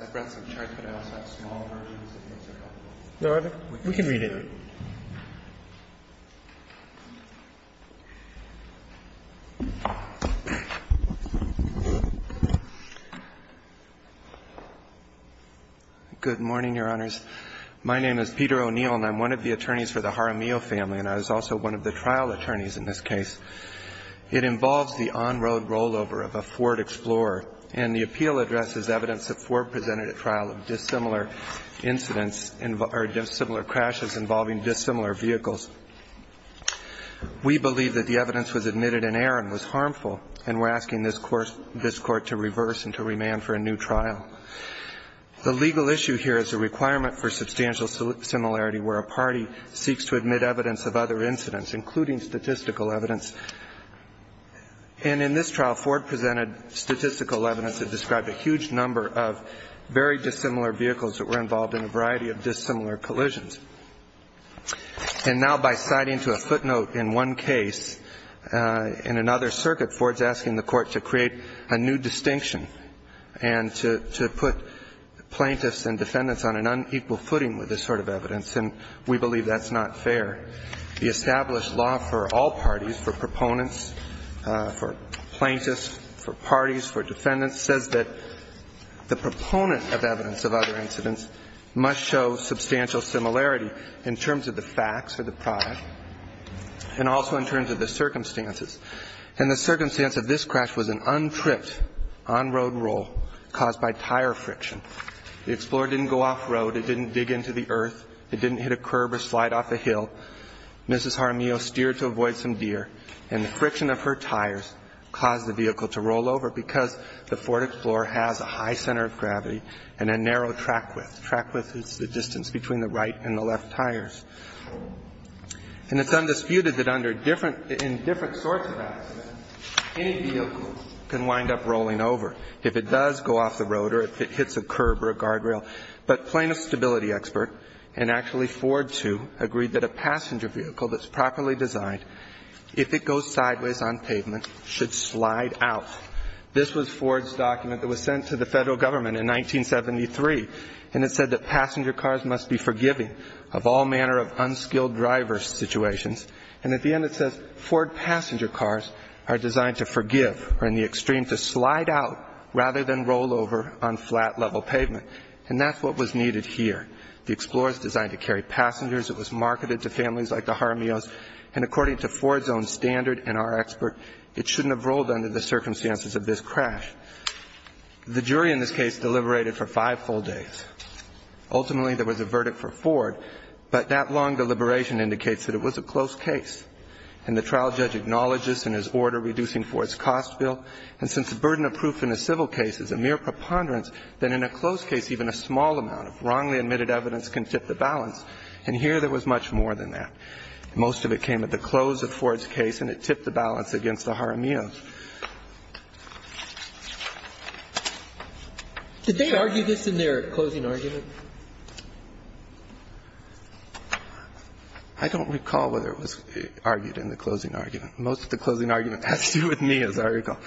I brought some charts, but I also have small versions if you want to look at them. Your Honor, we can read it. Good morning, Your Honors. My name is Peter O'Neill, and I'm one of the attorneys for the Jaramillo family, and I was also one of the trial attorneys in this case. It involves the on-road rollover of a Ford Explorer, and the appeal addresses evidence that Ford presented at trial of dissimilar incidents or dissimilar crashes involving dissimilar vehicles. We believe that the evidence was admitted in error and was harmful, and we're asking this Court to reverse and to remand for a new trial. The legal issue here is the requirement for substantial similarity where a party seeks to admit evidence of other incidents, including statistical evidence. And in this trial, Ford presented statistical evidence that described a huge number of very dissimilar vehicles that were involved in a variety of dissimilar collisions. And now by citing to a footnote in one case in another circuit, Ford's asking the Court to create a new distinction and to put plaintiffs and defendants on an unequal footing with this sort of evidence, and we believe that's not fair. The established law for all parties, for proponents, for plaintiffs, for parties, for defendants, says that the proponent of evidence of other incidents must show substantial similarity in terms of the facts or the product and also in terms of the circumstances. And the circumstance of this crash was an untripped on-road roll caused by tire friction. The Explorer didn't go off-road. It didn't dig into the earth. It didn't hit a curb or slide off a hill. Mrs. Jaramillo steered to avoid some deer, and the friction of her tires caused the vehicle to roll over because the Ford Explorer has a high center of gravity and a narrow track width. Track width is the distance between the right and the left tires. And it's undisputed that in different sorts of accidents, any vehicle can wind up rolling over, if it does go off the road or if it hits a curb or a guardrail. But plaintiff stability expert and actually Ford, too, agreed that a passenger vehicle that's properly designed, if it goes sideways on pavement, should slide out. This was Ford's document that was sent to the federal government in 1973, and it said that passenger cars must be forgiving of all manner of unskilled driver situations. And at the end it says, Ford passenger cars are designed to forgive or, in the extreme, to slide out rather than roll over on flat-level pavement. And that's what was needed here. The Explorer is designed to carry passengers. It was marketed to families like the Jaramillos. And according to Ford's own standard and our expert, it shouldn't have rolled under the circumstances of this crash. The jury in this case deliberated for five full days. Ultimately, there was a verdict for Ford, but that long deliberation indicates that it was a close case. And the trial judge acknowledged this in his order reducing Ford's cost bill. And since the burden of proof in a civil case is a mere preponderance, then in a close case even a small amount of wrongly admitted evidence can tip the balance. And here there was much more than that. Most of it came at the close of Ford's case, and it tipped the balance against the Jaramillos. Did they argue this in their closing argument? I don't recall whether it was argued in the closing argument. Most of the closing argument has to do with me, as I recall.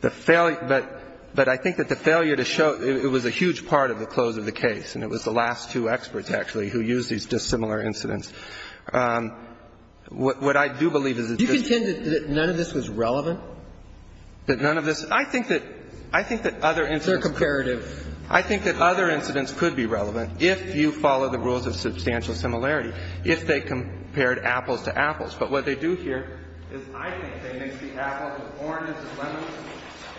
But I think that the failure to show – it was a huge part of the close of the case, and it was the last two experts, actually, who used these dissimilar incidents. What I do believe is that this – Do you contend that none of this was relevant? That none of this – I think that other incidents – They're comparative. I think that other incidents could be relevant if you follow the rules of substantial similarity, if they compared apples to apples. But what they do here is I think they mix the apples with oranges and lemons and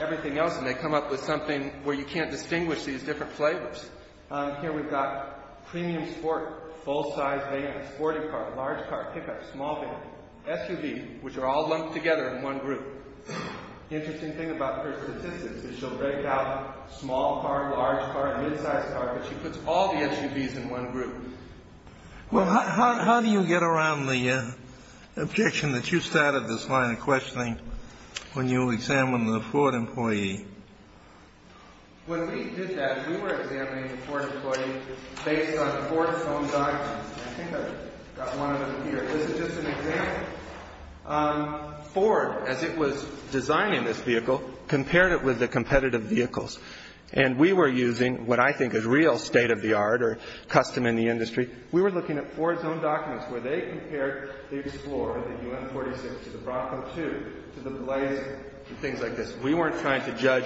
everything else, and they come up with something where you can't distinguish these different flavors. Here we've got premium sport, full-size van, sporty car, large car, pickup, small van, SUV, which are all lumped together in one group. The interesting thing about her statistics is she'll break out small car, large car, midsize car, but she puts all the SUVs in one group. Well, how do you get around the objection that you started this line of questioning when you examined the Ford employee? When we did that, we were examining the Ford employee based on Ford's own documents. I think I've got one of them here. This is just an example. Ford, as it was designing this vehicle, compared it with the competitive vehicles. And we were using what I think is real state-of-the-art or custom in the industry. We were looking at Ford's own documents where they compared the Explorer, the U.N. 46, to the Bronco 2, to the Blazer, to things like this. We weren't trying to judge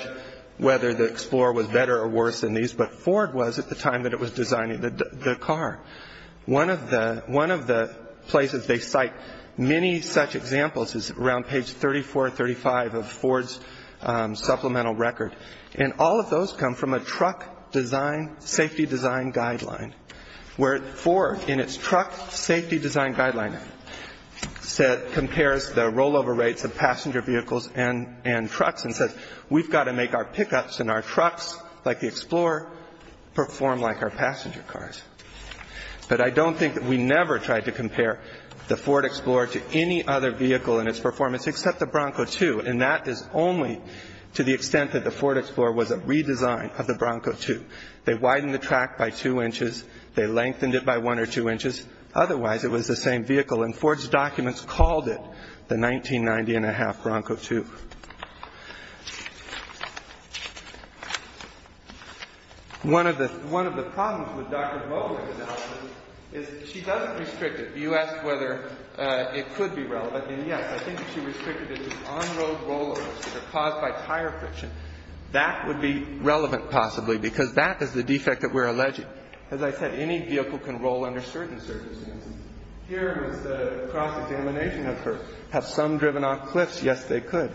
whether the Explorer was better or worse than these, but Ford was at the time that it was designing the car. One of the places they cite many such examples is around page 34 or 35 of Ford's supplemental record. And all of those come from a truck safety design guideline, where Ford, in its truck safety design guideline, compares the rollover rates of passenger vehicles and trucks and says, we've got to make our pickups and our trucks, like the Explorer, perform like our passenger cars. But I don't think that we never tried to compare the Ford Explorer to any other vehicle in its performance, except the Bronco 2. And that is only to the extent that the Ford Explorer was a redesign of the Bronco 2. They widened the track by two inches. They lengthened it by one or two inches. Otherwise, it was the same vehicle. And Ford's documents called it the 1990-and-a-half Bronco 2. One of the problems with Dr. Vogler's analysis is she doesn't restrict it. You asked whether it could be relevant. And yes, I think she restricted it as on-road rollovers that are caused by tire friction. That would be relevant, possibly, because that is the defect that we're alleging. As I said, any vehicle can roll under certain circumstances. Here is the cross-examination of her. Have some driven off cliffs? Yes, they could.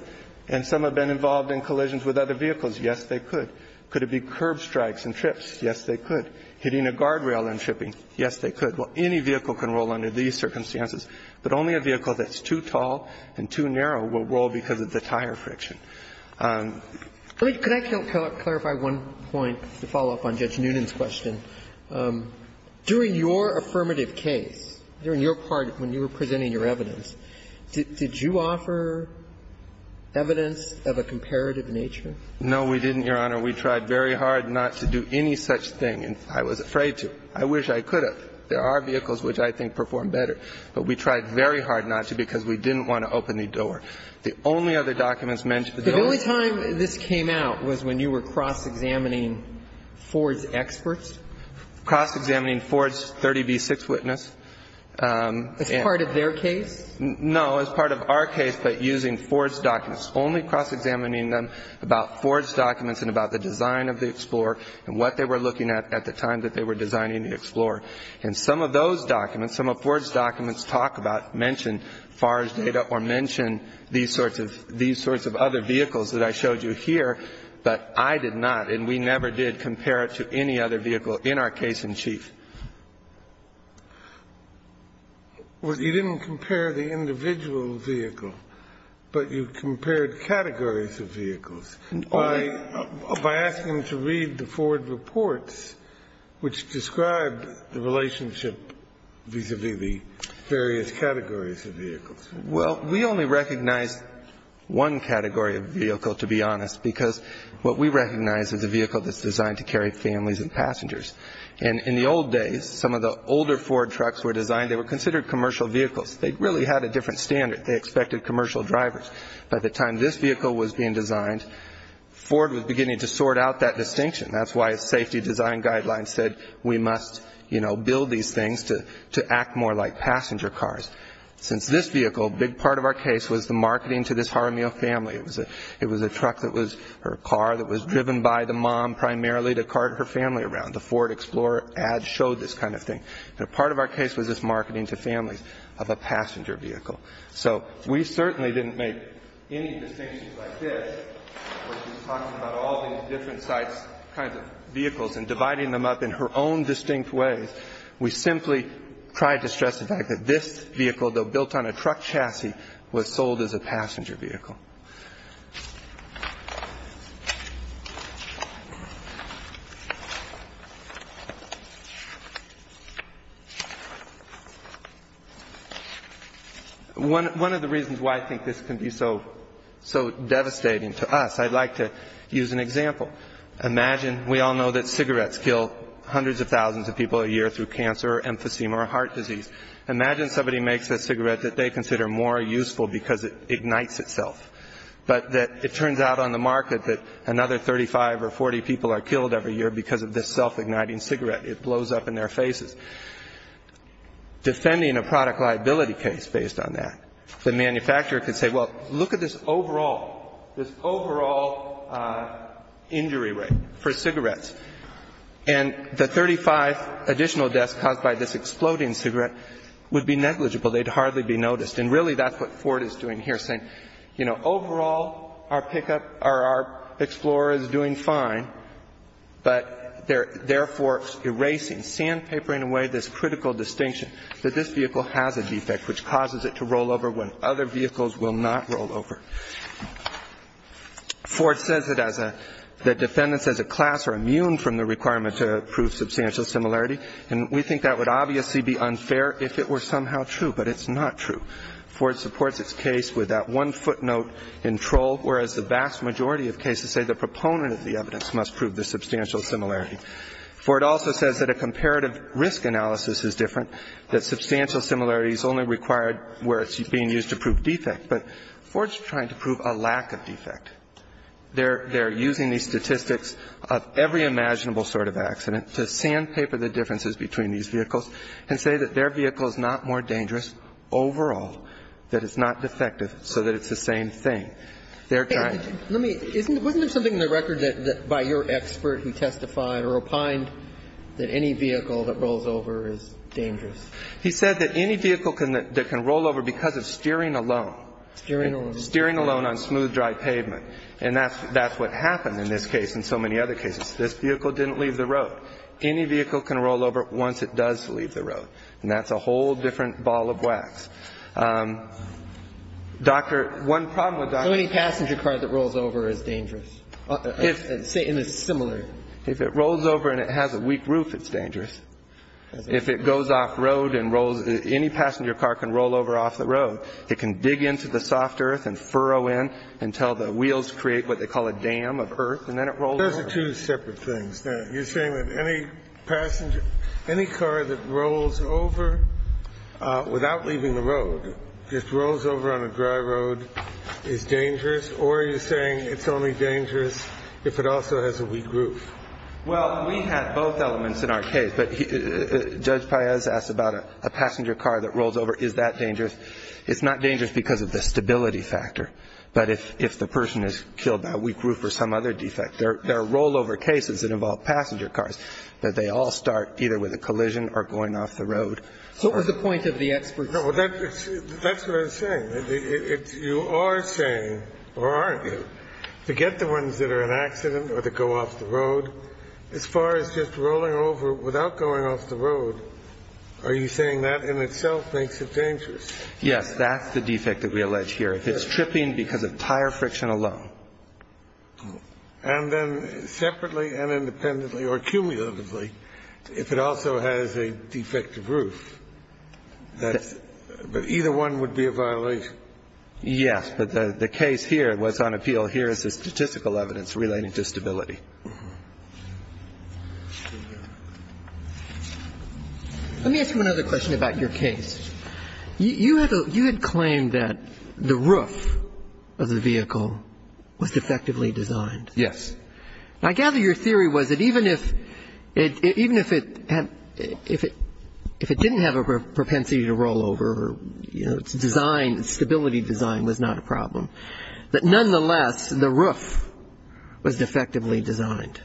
And some have been involved in collisions with other vehicles. Yes, they could. Could it be curb strikes and trips? Yes, they could. Hitting a guardrail and tripping? Yes, they could. Well, any vehicle can roll under these circumstances. But only a vehicle that's too tall and too narrow will roll because of the tire friction. Could I clarify one point to follow up on Judge Noonan's question? During your affirmative case, during your part when you were presenting your evidence, did you offer evidence of a comparative nature? No, we didn't, Your Honor. We tried very hard not to do any such thing, and I was afraid to. I wish I could have. But there are vehicles which I think perform better. But we tried very hard not to because we didn't want to open the door. The only other documents mentioned to the jury. The only time this came out was when you were cross-examining Ford's experts? Cross-examining Ford's 30B6 witness. As part of their case? No, as part of our case, but using Ford's documents. Only cross-examining them about Ford's documents and about the design of the Explorer and what they were looking at at the time that they were designing the Explorer. And some of those documents, some of Ford's documents talk about, mention Ford's data or mention these sorts of other vehicles that I showed you here, but I did not, and we never did compare it to any other vehicle in our case in chief. You didn't compare the individual vehicle, but you compared categories of vehicles. By asking him to read the Ford reports, which described the relationship vis-à-vis the various categories of vehicles. Well, we only recognized one category of vehicle, to be honest, because what we recognize is a vehicle that's designed to carry families and passengers. And in the old days, some of the older Ford trucks were designed, they were considered commercial vehicles. They really had a different standard. They expected commercial drivers. By the time this vehicle was being designed, Ford was beginning to sort out that distinction. That's why its safety design guidelines said, we must build these things to act more like passenger cars. Since this vehicle, a big part of our case was the marketing to this Jaramillo family. It was a truck that was her car that was driven by the mom primarily to cart her family around. The Ford Explorer ad showed this kind of thing. Part of our case was this marketing to families of a passenger vehicle. So we certainly didn't make any distinctions like this where she's talking about all these different sized kinds of vehicles and dividing them up in her own distinct ways. We simply tried to stress the fact that this vehicle, though built on a truck chassis, was sold as a passenger vehicle. One of the reasons why I think this can be so devastating to us, I'd like to use an example. Imagine, we all know that cigarettes kill hundreds of thousands of people a year through cancer or emphysema or heart disease. Imagine somebody makes a cigarette that they consider more useful because it ignites itself. But it turns out on the market that another 35 or 40 people are killed every year because of this self-igniting cigarette. It blows up in their faces. Defending a product liability case based on that, the manufacturer could say, well, look at this overall injury rate for cigarettes. And the 35 additional deaths caused by this exploding cigarette would be negligible. They'd hardly be noticed. And really that's what Ford is doing here, saying, you know, overall our pick-up or our Explorer is doing fine, but they're therefore erasing, sandpapering away this critical distinction that this vehicle has a defect which causes it to roll over when other vehicles will not roll over. Ford says that defendants as a class are immune from the requirement to prove substantial similarity. And we think that would obviously be unfair if it were somehow true, but it's not true. Ford supports its case with that one footnote in Troll, whereas the vast majority of cases say the proponent of the evidence must prove the substantial similarity. Ford also says that a comparative risk analysis is different, that substantial similarity is only required where it's being used to prove defect. But Ford's trying to prove a lack of defect. They're using these statistics of every imaginable sort of accident to sandpaper the differences between these vehicles and say that their vehicle is not more dangerous overall, that it's not defective, so that it's the same thing. They're trying to do that. Wasn't there something in the record by your expert who testified or opined that any vehicle that rolls over is dangerous? He said that any vehicle that can roll over because of steering alone. Steering alone. Steering alone on smooth, dry pavement. And that's what happened in this case and so many other cases. This vehicle didn't leave the road. Any vehicle can roll over once it does leave the road. And that's a whole different ball of wax. Doctor, one problem with Dr. So any passenger car that rolls over is dangerous? Say in a similar. If it rolls over and it has a weak roof, it's dangerous. If it goes off road and rolls, any passenger car can roll over off the road. It can dig into the soft earth and furrow in until the wheels create what they call a dam of earth and then it rolls over. That's two separate things. You're saying that any passenger, any car that rolls over without leaving the road, just rolls over on a dry road, is dangerous? Or are you saying it's only dangerous if it also has a weak roof? Well, we had both elements in our case. But Judge Paez asked about a passenger car that rolls over. Is that dangerous? It's not dangerous because of the stability factor. But if the person has killed that weak roof or some other defect, there are rollover cases that involve passenger cars that they all start either with a collision or going off the road. What was the point of the experts? That's what I'm saying. You are saying, or aren't you, to get the ones that are an accident or that go off the road. As far as just rolling over without going off the road, are you saying that in itself makes it dangerous? Yes, that's the defect that we allege here. If it's tripping because of tire friction alone. And then separately and independently or cumulatively, if it also has a defective roof, that's – but either one would be a violation? Yes. But the case here, what's on appeal here is the statistical evidence relating to stability. Let me ask you another question about your case. You had claimed that the roof of the vehicle was defectively designed. Yes. I gather your theory was that even if it had – if it didn't have a propensity to roll over, you know, its design, its stability design was not a problem, that nonetheless the roof was defectively designed.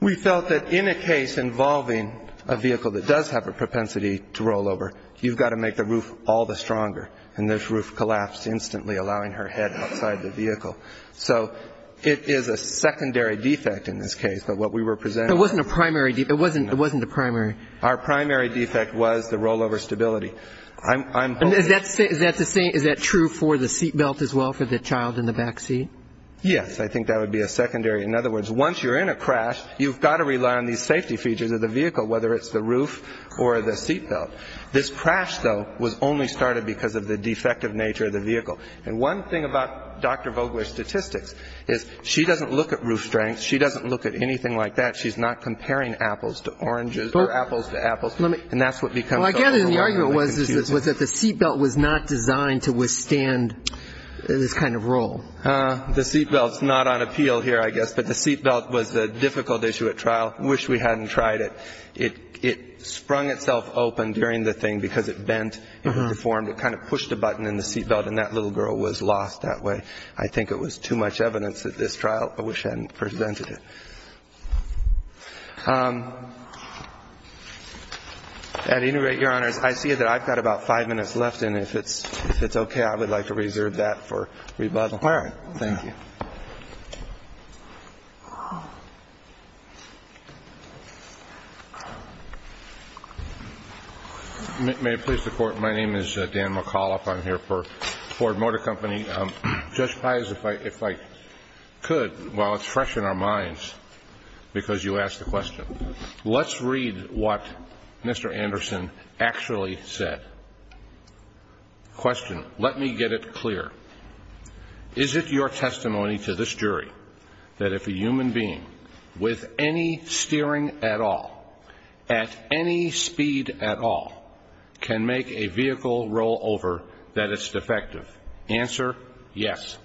We felt that in a case involving a vehicle that does have a propensity to roll over, you've got to make the roof all the stronger. And this roof collapsed instantly, allowing her head outside the vehicle. So it is a secondary defect in this case, but what we were presenting – It wasn't a primary – it wasn't a primary – Our primary defect was the rollover stability. Is that the same – is that true for the seatbelt as well, for the child in the backseat? Yes. I think that would be a secondary – in other words, once you're in a crash, you've got to rely on these safety features of the vehicle, whether it's the roof or the seatbelt. This crash, though, was only started because of the defective nature of the vehicle. And one thing about Dr. Vogler's statistics is she doesn't look at roof strength. She doesn't look at anything like that. She's not comparing apples to oranges or apples to apples. And that's what becomes so overwhelming. Well, I gather the argument was that the seatbelt was not designed to withstand this kind of roll. The seatbelt's not on appeal here, I guess, but the seatbelt was a difficult issue at trial. I wish we hadn't tried it. It sprung itself open during the thing because it bent. It deformed. It kind of pushed a button in the seatbelt, and that little girl was lost that way. I think it was too much evidence at this trial. I wish I hadn't presented it. At any rate, Your Honors, I see that I've got about five minutes left, and if it's okay, I would like to reserve that for rebuttal. All right. Thank you. May it please the Court, my name is Dan McAuliffe. I'm here for Ford Motor Company. Judge Pius, if I could, while it's fresh in our minds because you asked the question, let's read what Mr. Anderson actually said. Question. Let me get it clear. Is it your testimony to this jury that if a human being with any steering at all, at any speed at all, can make a vehicle roll over, that it's defective? Answer, yes.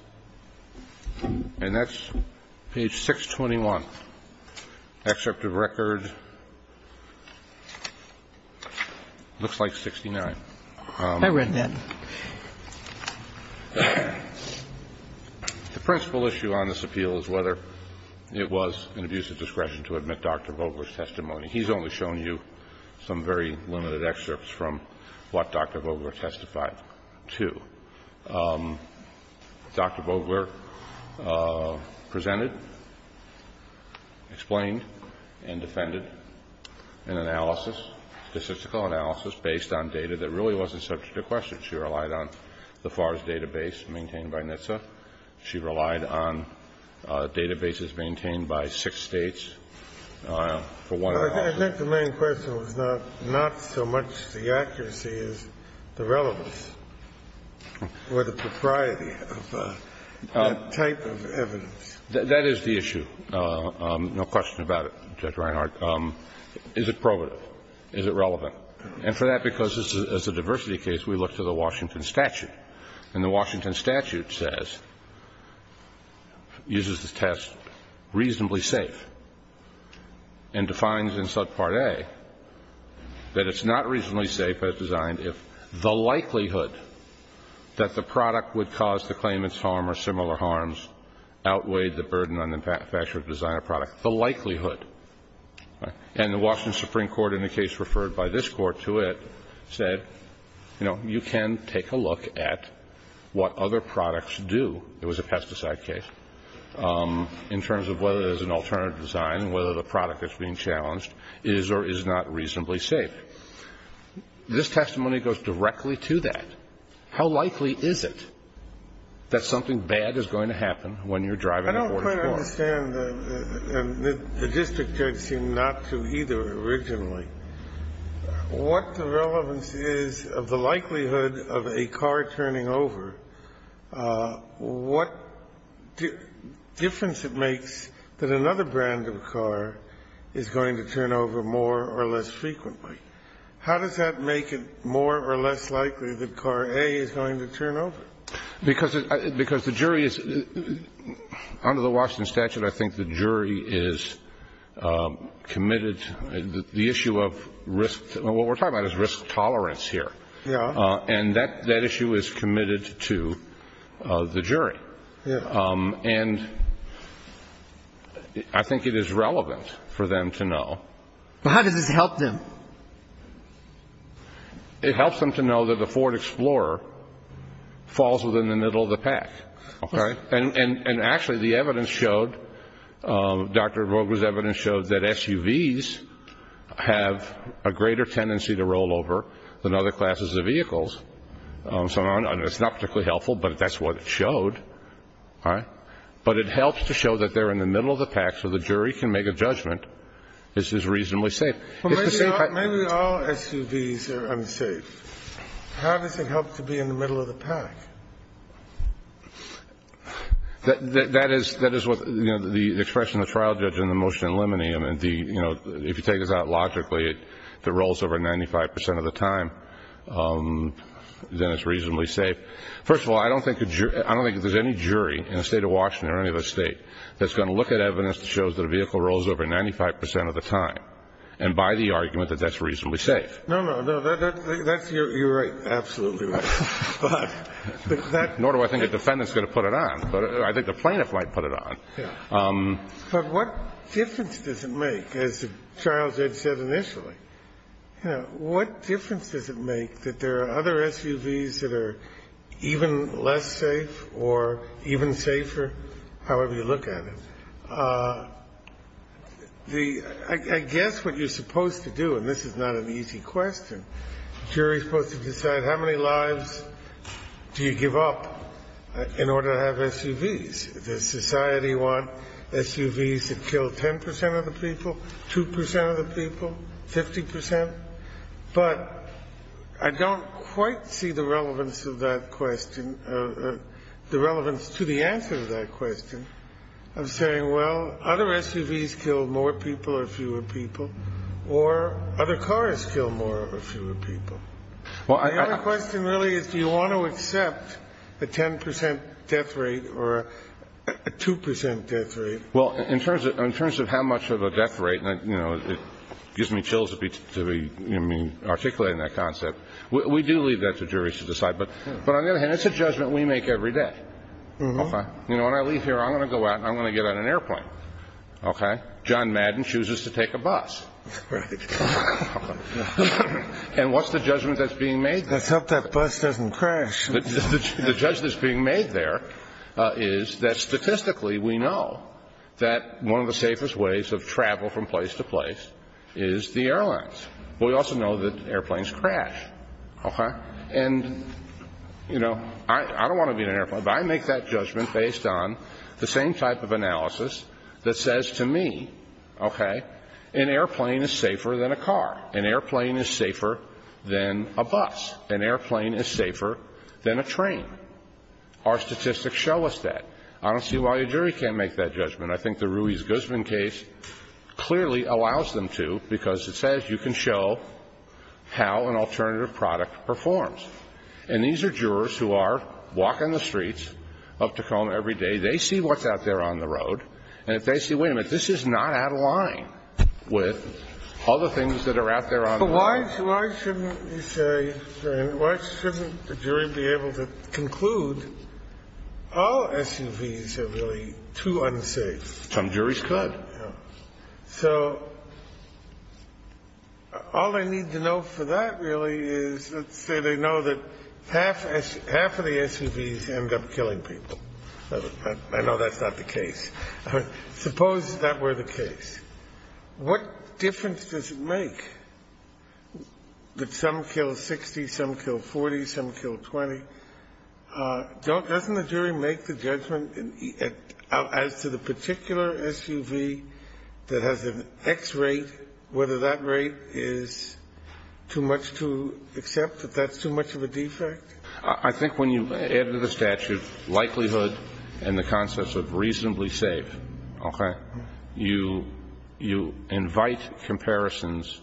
And that's page 621, excerpt of record, looks like 69. I read that. The principal issue on this appeal is whether it was an abuse of discretion to admit Dr. Vogler's testimony. He's only shown you some very limited excerpts from what Dr. Vogler testified to. Dr. Vogler presented, explained, and defended an analysis, statistical analysis, based on data that really wasn't subject to question. She relied on the FARS database maintained by NHTSA. She relied on databases maintained by six States. I think the main question was not so much the accuracy as the relevance or the propriety of that type of evidence. That is the issue. No question about it, Judge Reinhart. Is it probative? Is it relevant? And for that, because as a diversity case, we look to the Washington statute. And the Washington statute says, uses the test reasonably safe, and defines in subpart A that it's not reasonably safe as designed if the likelihood that the product would cause the claimant's harm or similar harms outweighed the burden on the manufacturer to design a product, the likelihood. And the Washington Supreme Court, in a case referred by this Court to it, said, you know, you can take a look at what other products do. It was a pesticide case. In terms of whether there's an alternative design, whether the product that's being challenged is or is not reasonably safe. This testimony goes directly to that. How likely is it that something bad is going to happen when you're driving a forged board? I don't understand, and the district judge seemed not to either originally. What the relevance is of the likelihood of a car turning over, what difference it makes that another brand of car is going to turn over more or less frequently? How does that make it more or less likely that car A is going to turn over? Because the jury is, under the Washington statute, I think the jury is committed to the issue of risk. What we're talking about is risk tolerance here. Yeah. And that issue is committed to the jury. Yeah. And I think it is relevant for them to know. But how does this help them? It helps them to know that the Ford Explorer falls within the middle of the pack. Okay? And actually, the evidence showed, Dr. Vogel's evidence showed that SUVs have a greater tendency to roll over than other classes of vehicles. So it's not particularly helpful, but that's what it showed. All right? But it helps to show that they're in the middle of the pack so the jury can make a judgment this is reasonably safe. Maybe all SUVs are unsafe. How does it help to be in the middle of the pack? That is what the expression of the trial judge in the motion in limineum, if you take this out logically, if it rolls over 95 percent of the time, then it's reasonably safe. First of all, I don't think there's any jury in the State of Washington or any other State that's going to look at evidence that shows that a vehicle rolls over 95 percent of the time and by the argument that that's reasonably safe. No, no. You're right. Absolutely right. Nor do I think a defendant's going to put it on, but I think the plaintiff might put it on. But what difference does it make, as Charles said initially? What difference does it make that there are other SUVs that are even less safe or even safer, however you look at it? I guess what you're supposed to do, and this is not an easy question, the jury is supposed to decide how many lives do you give up in order to have SUVs. Does society want SUVs that kill 10 percent of the people, 2 percent of the people, 50 percent? But I don't quite see the relevance of that question, the relevance to the answer to that question of saying, well, other SUVs kill more people or fewer people, or other cars kill more or fewer people. The only question really is do you want to accept a 10 percent death rate or a 2 percent death rate? Well, in terms of how much of a death rate, you know, it gives me chills to be articulating that concept. We do leave that to juries to decide. But on the other hand, it's a judgment we make every day. Okay. You know, when I leave here, I'm going to go out and I'm going to get on an airplane. Okay. John Madden chooses to take a bus. Right. And what's the judgment that's being made there? Let's hope that bus doesn't crash. The judgment that's being made there is that statistically we know that one of the safest ways of travel from place to place is the airlines. But we also know that airplanes crash. Okay. And, you know, I don't want to be in an airplane, but I make that judgment based on the same type of analysis that says to me, okay, an airplane is safer than a car. An airplane is safer than a bus. An airplane is safer than a train. Our statistics show us that. I don't see why a jury can't make that judgment. I think the Ruiz-Guzman case clearly allows them to, because it says you can show how an alternative product performs. And these are jurors who are walking the streets of Tacoma every day. They see what's out there on the road. And if they see, wait a minute, this is not out of line with other things that are out there on the road. But why shouldn't we say, why shouldn't the jury be able to conclude all SUVs are really too unsafe? Some juries could. So all I need to know for that really is let's say they know that half of the SUVs end up killing people. I know that's not the case. Suppose that were the case. What difference does it make that some kill 60, some kill 40, some kill 20? Doesn't the jury make the judgment as to the particular SUV that has an X rate, whether that rate is too much to accept, that that's too much of a defect? I think when you add to the statute likelihood and the concept of reasonably safe, okay, you invite comparisons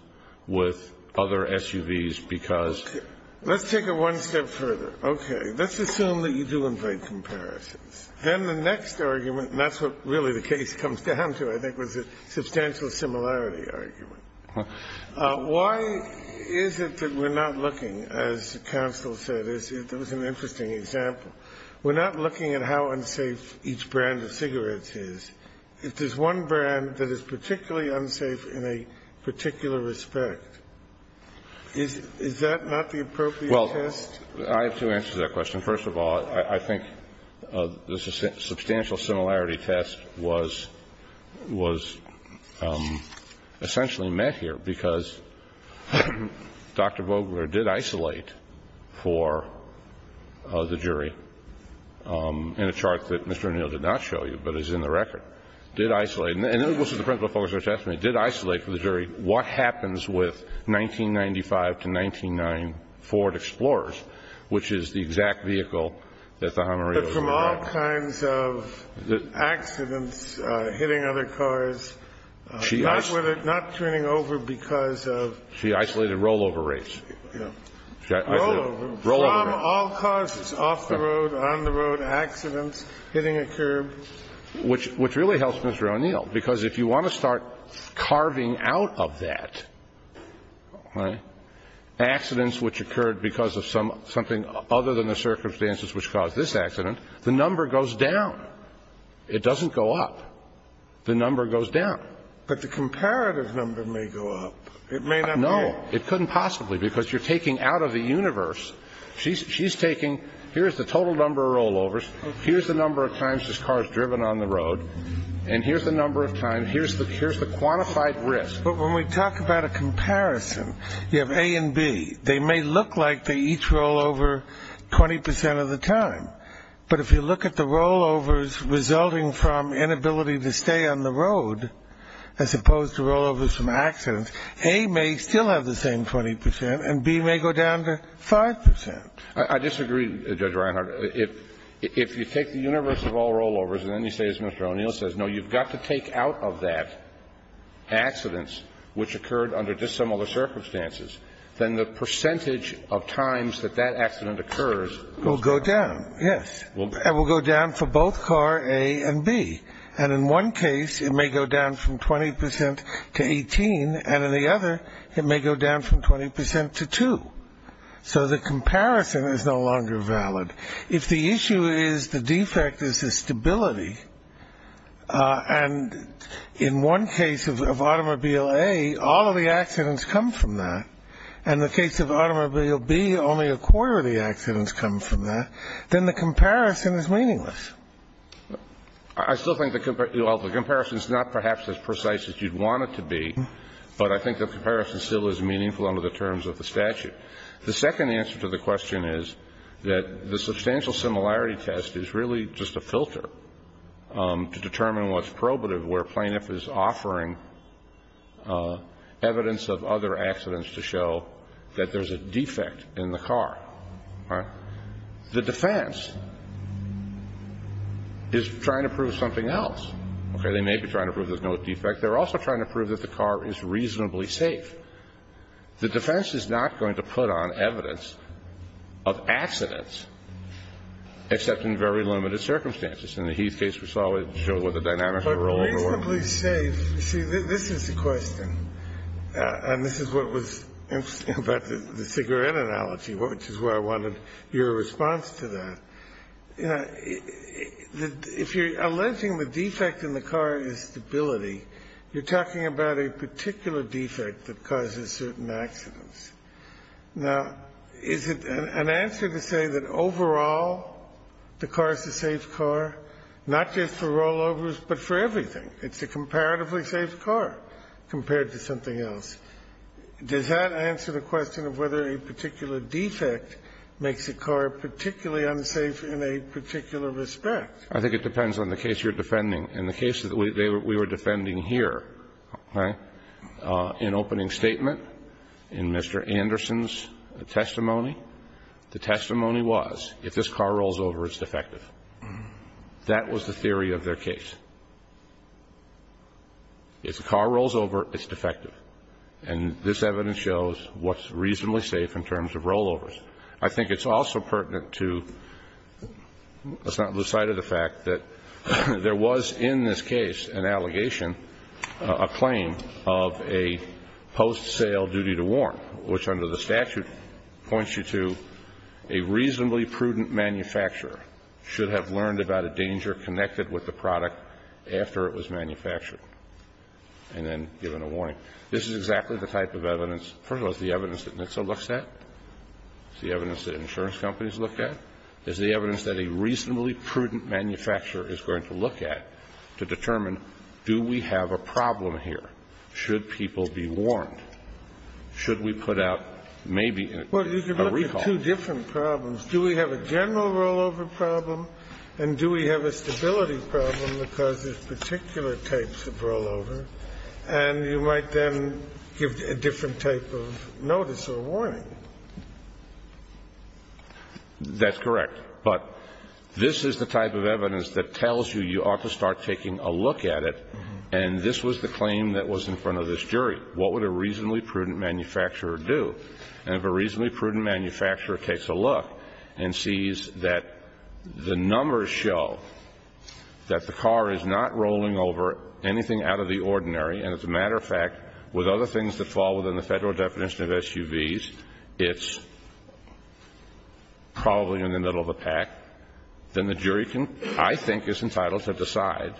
with other SUVs because. Let's take it one step further. Okay. Let's assume that you do invite comparisons. Then the next argument, and that's what really the case comes down to, I think, was a substantial similarity argument. Why is it that we're not looking, as counsel said, it was an interesting example, we're not looking at how unsafe each brand of cigarettes is. If there's one brand that is particularly unsafe in a particular respect, is that not the appropriate test? Well, I have two answers to that question. First of all, I think the substantial similarity test was essentially met here because Dr. Vogler did isolate for the jury in a chart that Mr. O'Neill did not show you, but is in the record. Did isolate. And this was the principal focus of her testimony. Did isolate for the jury what happens with 1995 to 1994 Ford Explorers, which is the exact vehicle that the Jamarillos were driving. But from all kinds of accidents, hitting other cars, not turning over because of. She isolated rollover rates. Yeah. Rollover. Rollover rates. All cars off the road, on the road, accidents, hitting a curb. Which really helps Mr. O'Neill, because if you want to start carving out of that, right, accidents which occurred because of something other than the circumstances which caused this accident, the number goes down. It doesn't go up. The number goes down. But the comparative number may go up. It may not be. It couldn't possibly, because you're taking out of the universe. She's taking here's the total number of rollovers. Here's the number of times this car has driven on the road. And here's the number of times. Here's the quantified risk. But when we talk about a comparison, you have A and B. They may look like they each rollover 20% of the time. But if you look at the rollovers resulting from inability to stay on the road, as opposed to rollovers from accidents, A may still have the same 20%, and B may go down to 5%. I disagree, Judge Reinhart. If you take the universe of all rollovers, and then you say, as Mr. O'Neill says, no, you've got to take out of that accidents which occurred under dissimilar circumstances, then the percentage of times that that accident occurs goes down. Yes. It will go down for both car A and B. And in one case, it may go down from 20% to 18, and in the other, it may go down from 20% to 2. So the comparison is no longer valid. If the issue is the defect is the stability, and in one case of automobile A, all of the accidents come from that, and in the case of automobile B, only a quarter of the accidents come from that, then the comparison is meaningless. I still think the comparison is not perhaps as precise as you'd want it to be, but I think the comparison still is meaningful under the terms of the statute. The second answer to the question is that the substantial similarity test is really just a filter to determine what's probative, where a plaintiff is offering evidence of other accidents to show that there's a defect in the car. The defense is trying to prove something else. Okay. They may be trying to prove there's no defect. They're also trying to prove that the car is reasonably safe. The defense is not going to put on evidence of accidents, except in very limited circumstances. In the Heath case we saw, it showed what the dynamics were all over the world. But reasonably safe. See, this is the question, and this is what was interesting about the cigarette analogy, which is why I wanted your response to that. If you're alleging the defect in the car is stability, you're talking about a particular defect that causes certain accidents. Now, is it an answer to say that overall the car is a safe car, not just for rollovers, but for everything? It's a comparatively safe car compared to something else. Does that answer the question of whether a particular defect makes a car particularly unsafe in a particular respect? I think it depends on the case you're defending. In the case that we were defending here, okay, in opening statement, in Mr. Anderson's testimony, the testimony was, if this car rolls over, it's defective. That was the theory of their case. If the car rolls over, it's defective. And this evidence shows what's reasonably safe in terms of rollovers. I think it's also pertinent to the fact that there was in this case an allegation, a claim of a post-sale duty to warn, which under the statute points you to a reasonably prudent manufacturer should have learned about a danger connected with the product This is exactly the type of evidence. First of all, it's the evidence that NHTSA looks at. It's the evidence that insurance companies look at. It's the evidence that a reasonably prudent manufacturer is going to look at to determine, do we have a problem here? Should people be warned? Should we put out maybe a recall? Well, you can look at two different problems. Do we have a general rollover problem, and do we have a stability problem because there's particular types of rollover? And you might then give a different type of notice or warning. That's correct. But this is the type of evidence that tells you you ought to start taking a look at it, and this was the claim that was in front of this jury. What would a reasonably prudent manufacturer do? And if a reasonably prudent manufacturer takes a look and sees that the numbers show that the car is not rolling over anything out of the ordinary, and as a matter of fact, with other things that fall within the Federal definition of SUVs, it's probably in the middle of a pack, then the jury can, I think, is entitled to decide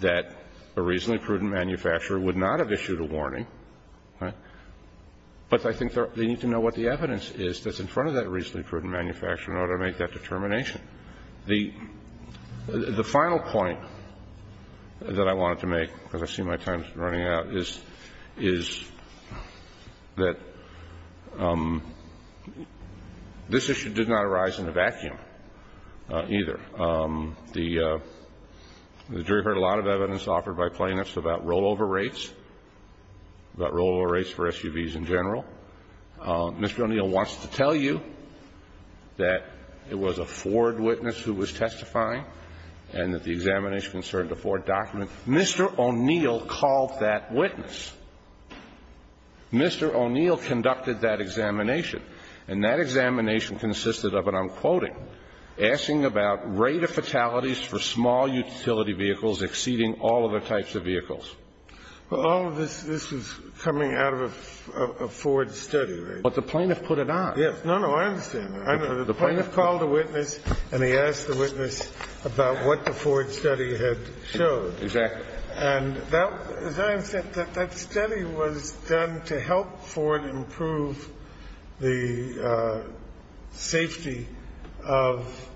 that a reasonably prudent manufacturer would not have issued a warning. But I think they need to know what the evidence is that's in front of that reasonably prudent manufacturer in order to make that determination. The final point that I wanted to make, because I see my time's running out, is that this issue did not arise in a vacuum, either. The jury heard a lot of evidence offered by plaintiffs about rollover rates, about rollover rates for SUVs in general. Mr. O'Neill wants to tell you that it was a Ford witness who was testifying and that the examination concerned a Ford document. Mr. O'Neill called that witness. Mr. O'Neill conducted that examination, and that examination consisted of, and I'm quoting, asking about rate of fatalities for small utility vehicles exceeding all other types of vehicles. Well, all of this is coming out of a Ford study, right? But the plaintiff put it on. Yes. No, no, I understand that. The plaintiff called the witness and he asked the witness about what the Ford study had showed. Exactly. And that, as I understand, that that study was done to help Ford improve the safety of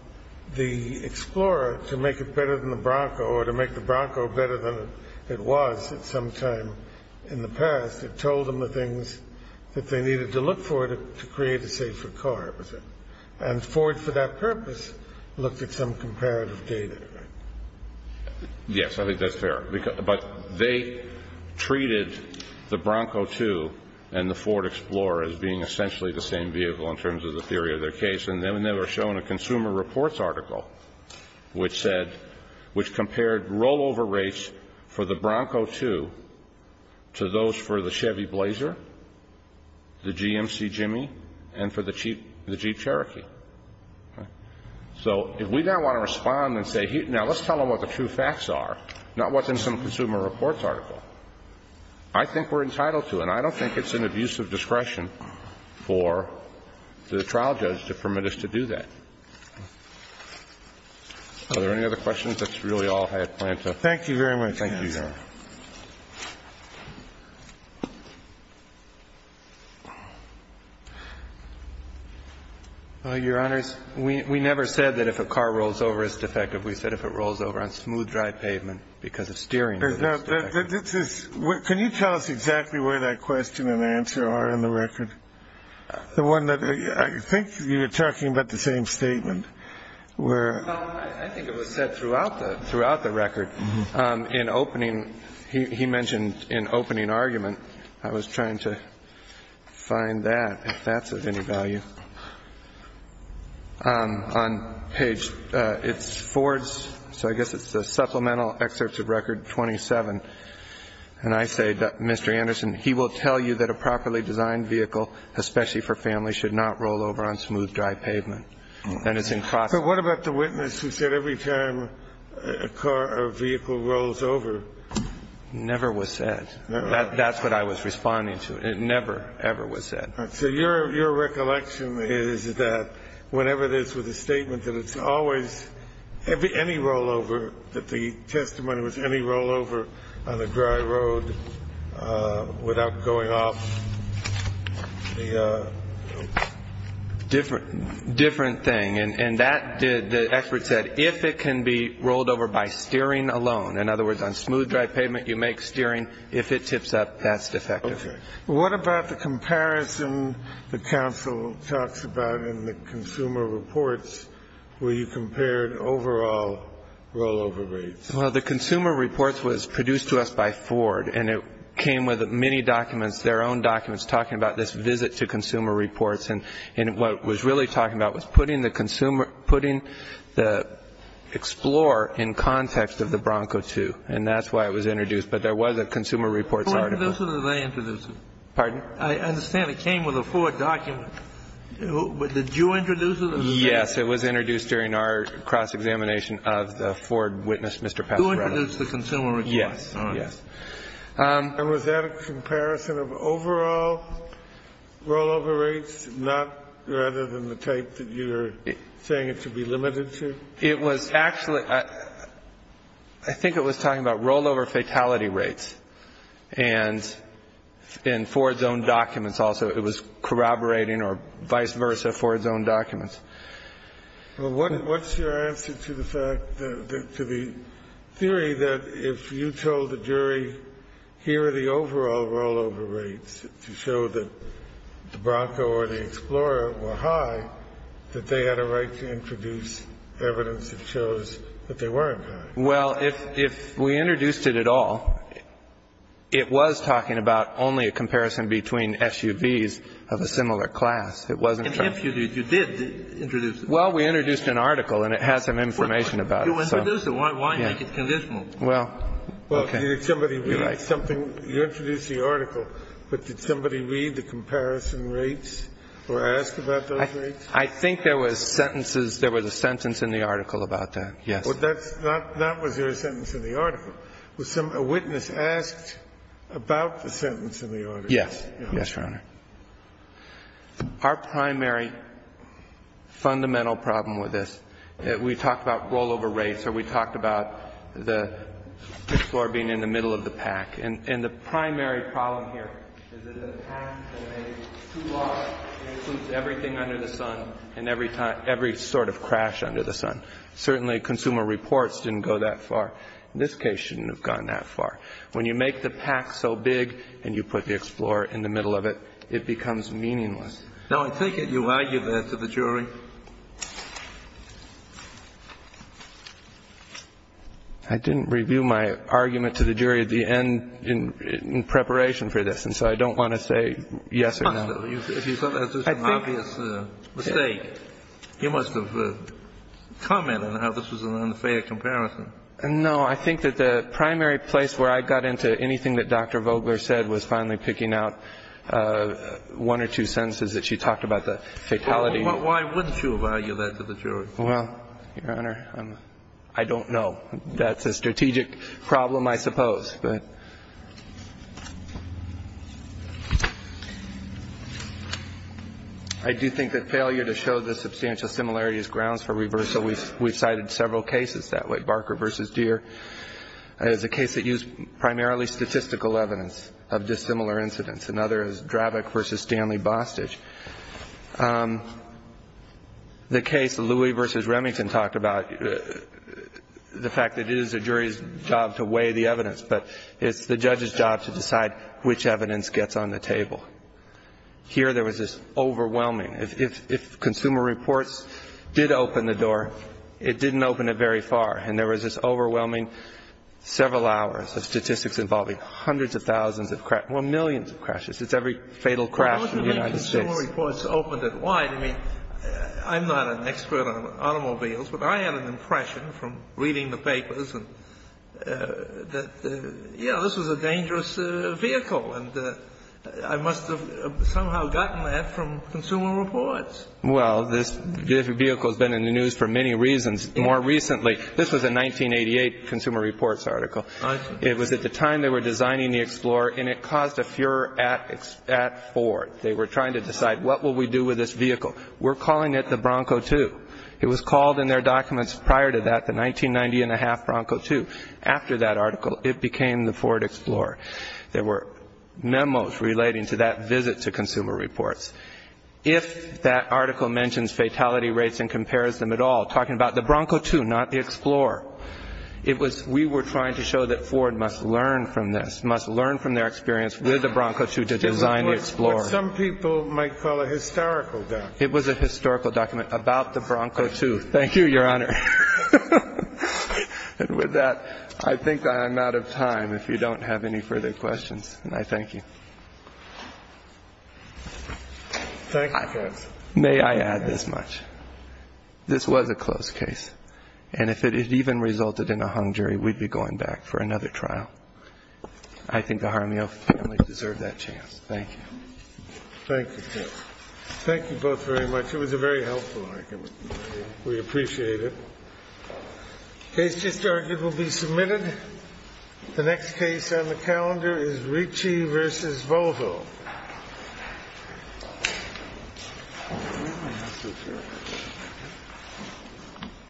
the Explorer to make it better than the Bronco, or to make the Bronco better than it was at some time in the past. It told them the things that they needed to look for to create a safer car. And Ford, for that purpose, looked at some comparative data. Yes, I think that's fair. But they treated the Bronco II and the Ford Explorer as being essentially the same vehicle in terms of the theory of their case. And then they were shown a Consumer Reports article which said, which compared rollover rates for the Bronco II to those for the Chevy Blazer, the GMC Jimmy, and for the Jeep Cherokee. So if we now want to respond and say, now let's tell them what the true facts are, not what's in some Consumer Reports article, I think we're entitled to it. And I don't think it's an abuse of discretion for the trial judge to permit us to do that. Are there any other questions? That's really all I had planned to ask. Thank you very much, counsel. Thank you, Your Honor. Your Honors, we never said that if a car rolls over, it's defective. We said if it rolls over on smooth, dry pavement because of steering, it's defective. Can you tell us exactly where that question and answer are in the record? The one that I think you were talking about, the same statement. I think it was said throughout the record. In opening, he mentioned an opening argument. I was trying to find that, if that's of any value. On page, it's Ford's, so I guess it's the supplemental excerpts of record 27. And I say, Mr. Anderson, he will tell you that a properly designed vehicle, especially for families, should not roll over on smooth, dry pavement. But what about the witness who said every time a car or vehicle rolls over? Never was said. That's what I was responding to. It never, ever was said. So your recollection is that whenever it is with a statement that it's always any rollover, that the testimony was any rollover on a dry road without going off, the different thing. And that did, the expert said, if it can be rolled over by steering alone. In other words, on smooth, dry pavement, you make steering. If it tips up, that's defective. What about the comparison the counsel talks about in the Consumer Reports where you compared overall rollover rates? Well, the Consumer Reports was produced to us by Ford, and it came with many documents, their own documents, talking about this visit to Consumer Reports. And what it was really talking about was putting the consumer, putting the Explorer in context of the Bronco II, and that's why it was introduced. But there was a Consumer Reports article. Did you introduce it or did they introduce it? Pardon? I understand it came with a Ford document. Did you introduce it or did they? Yes. It was introduced during our cross-examination of the Ford witness, Mr. Pasquarello. You introduced the Consumer Reports. Yes. All right. Yes. And was that a comparison of overall rollover rates, not rather than the type that you're saying it should be limited to? It was actually, I think it was talking about rollover fatality rates. And in Ford's own documents also, it was corroborating or vice versa, Ford's own documents. Well, what's your answer to the fact, to the theory that if you told the jury, here are the overall rollover rates to show that the Bronco or the Explorer were high, that they had a right to introduce evidence that shows that they weren't high? Well, if we introduced it at all, it was talking about only a comparison between SUVs of a similar class. It wasn't true. And if you did, you did introduce it? Well, we introduced an article, and it has some information about it. You introduced it. Why make it conditional? Well, okay. Well, did somebody read something? You introduced the article, but did somebody read the comparison rates or ask about those rates? I think there was sentences, there was a sentence in the article about that, yes. Well, that was your sentence in the article. A witness asked about the sentence in the article. Yes. Yes, Your Honor. Our primary fundamental problem with this, we talked about rollover rates, or we talked about the Explorer being in the middle of the pack. And the primary problem here is that the pack is too large. It includes everything under the sun and every sort of crash under the sun. Certainly, Consumer Reports didn't go that far. This case shouldn't have gone that far. When you make the pack so big and you put the Explorer in the middle of it, it becomes meaningless. Now, I take it you argue that to the jury? I didn't review my argument to the jury at the end in preparation for this, and so I don't want to say yes or no. If you thought that was an obvious mistake, you must have commented on how this was an unfair comparison. No. I think that the primary place where I got into anything that Dr. Vogler said was finally picking out one or two sentences that she talked about, the fatality. Well, why wouldn't you have argued that to the jury? Well, Your Honor, I don't know. That's a strategic problem, I suppose. I do think that failure to show the substantial similarity is grounds for reversal. We've cited several cases that way, Barker v. Deere. There's a case that used primarily statistical evidence of dissimilar incidents. Another is Drabik v. Stanley Bostitch. The case that Louie v. Remington talked about, the fact that it is the jury's job to weigh the evidence, but it's the judge's job to decide which evidence gets on the table. Here there was this overwhelming. If Consumer Reports did open the door, it didn't open it very far, and there was this overwhelming several hours of statistics involving hundreds of thousands of crashes or millions of crashes. It's every fatal crash in the United States. Well, how do you think Consumer Reports opened it? Why? I mean, I'm not an expert on automobiles, but I had an impression from reading the article that, you know, this was a dangerous vehicle, and I must have somehow gotten that from Consumer Reports. Well, this vehicle has been in the news for many reasons. More recently, this was a 1988 Consumer Reports article. I see. It was at the time they were designing the Explorer, and it caused a furor at Ford. They were trying to decide, what will we do with this vehicle? We're calling it the Bronco II. It was called in their documents prior to that the 1990-and-a-half Bronco II. After that article, it became the Ford Explorer. There were memos relating to that visit to Consumer Reports. If that article mentions fatality rates and compares them at all, talking about the Bronco II, not the Explorer, it was we were trying to show that Ford must learn from this, must learn from their experience with the Bronco II to design the Explorer. But some people might call it a historical document. It was a historical document about the Bronco II. Thank you, Your Honor. And with that, I think I'm out of time. If you don't have any further questions, I thank you. Thank you, Judge. May I add this much? This was a close case. And if it had even resulted in a hung jury, we'd be going back for another trial. I think the Jaramillo family deserved that chance. Thank you. Thank you, Judge. Thank you both very much. It was a very helpful argument. We appreciate it. The case just argued will be submitted. The next case on the calendar is Ricci v. Volvo.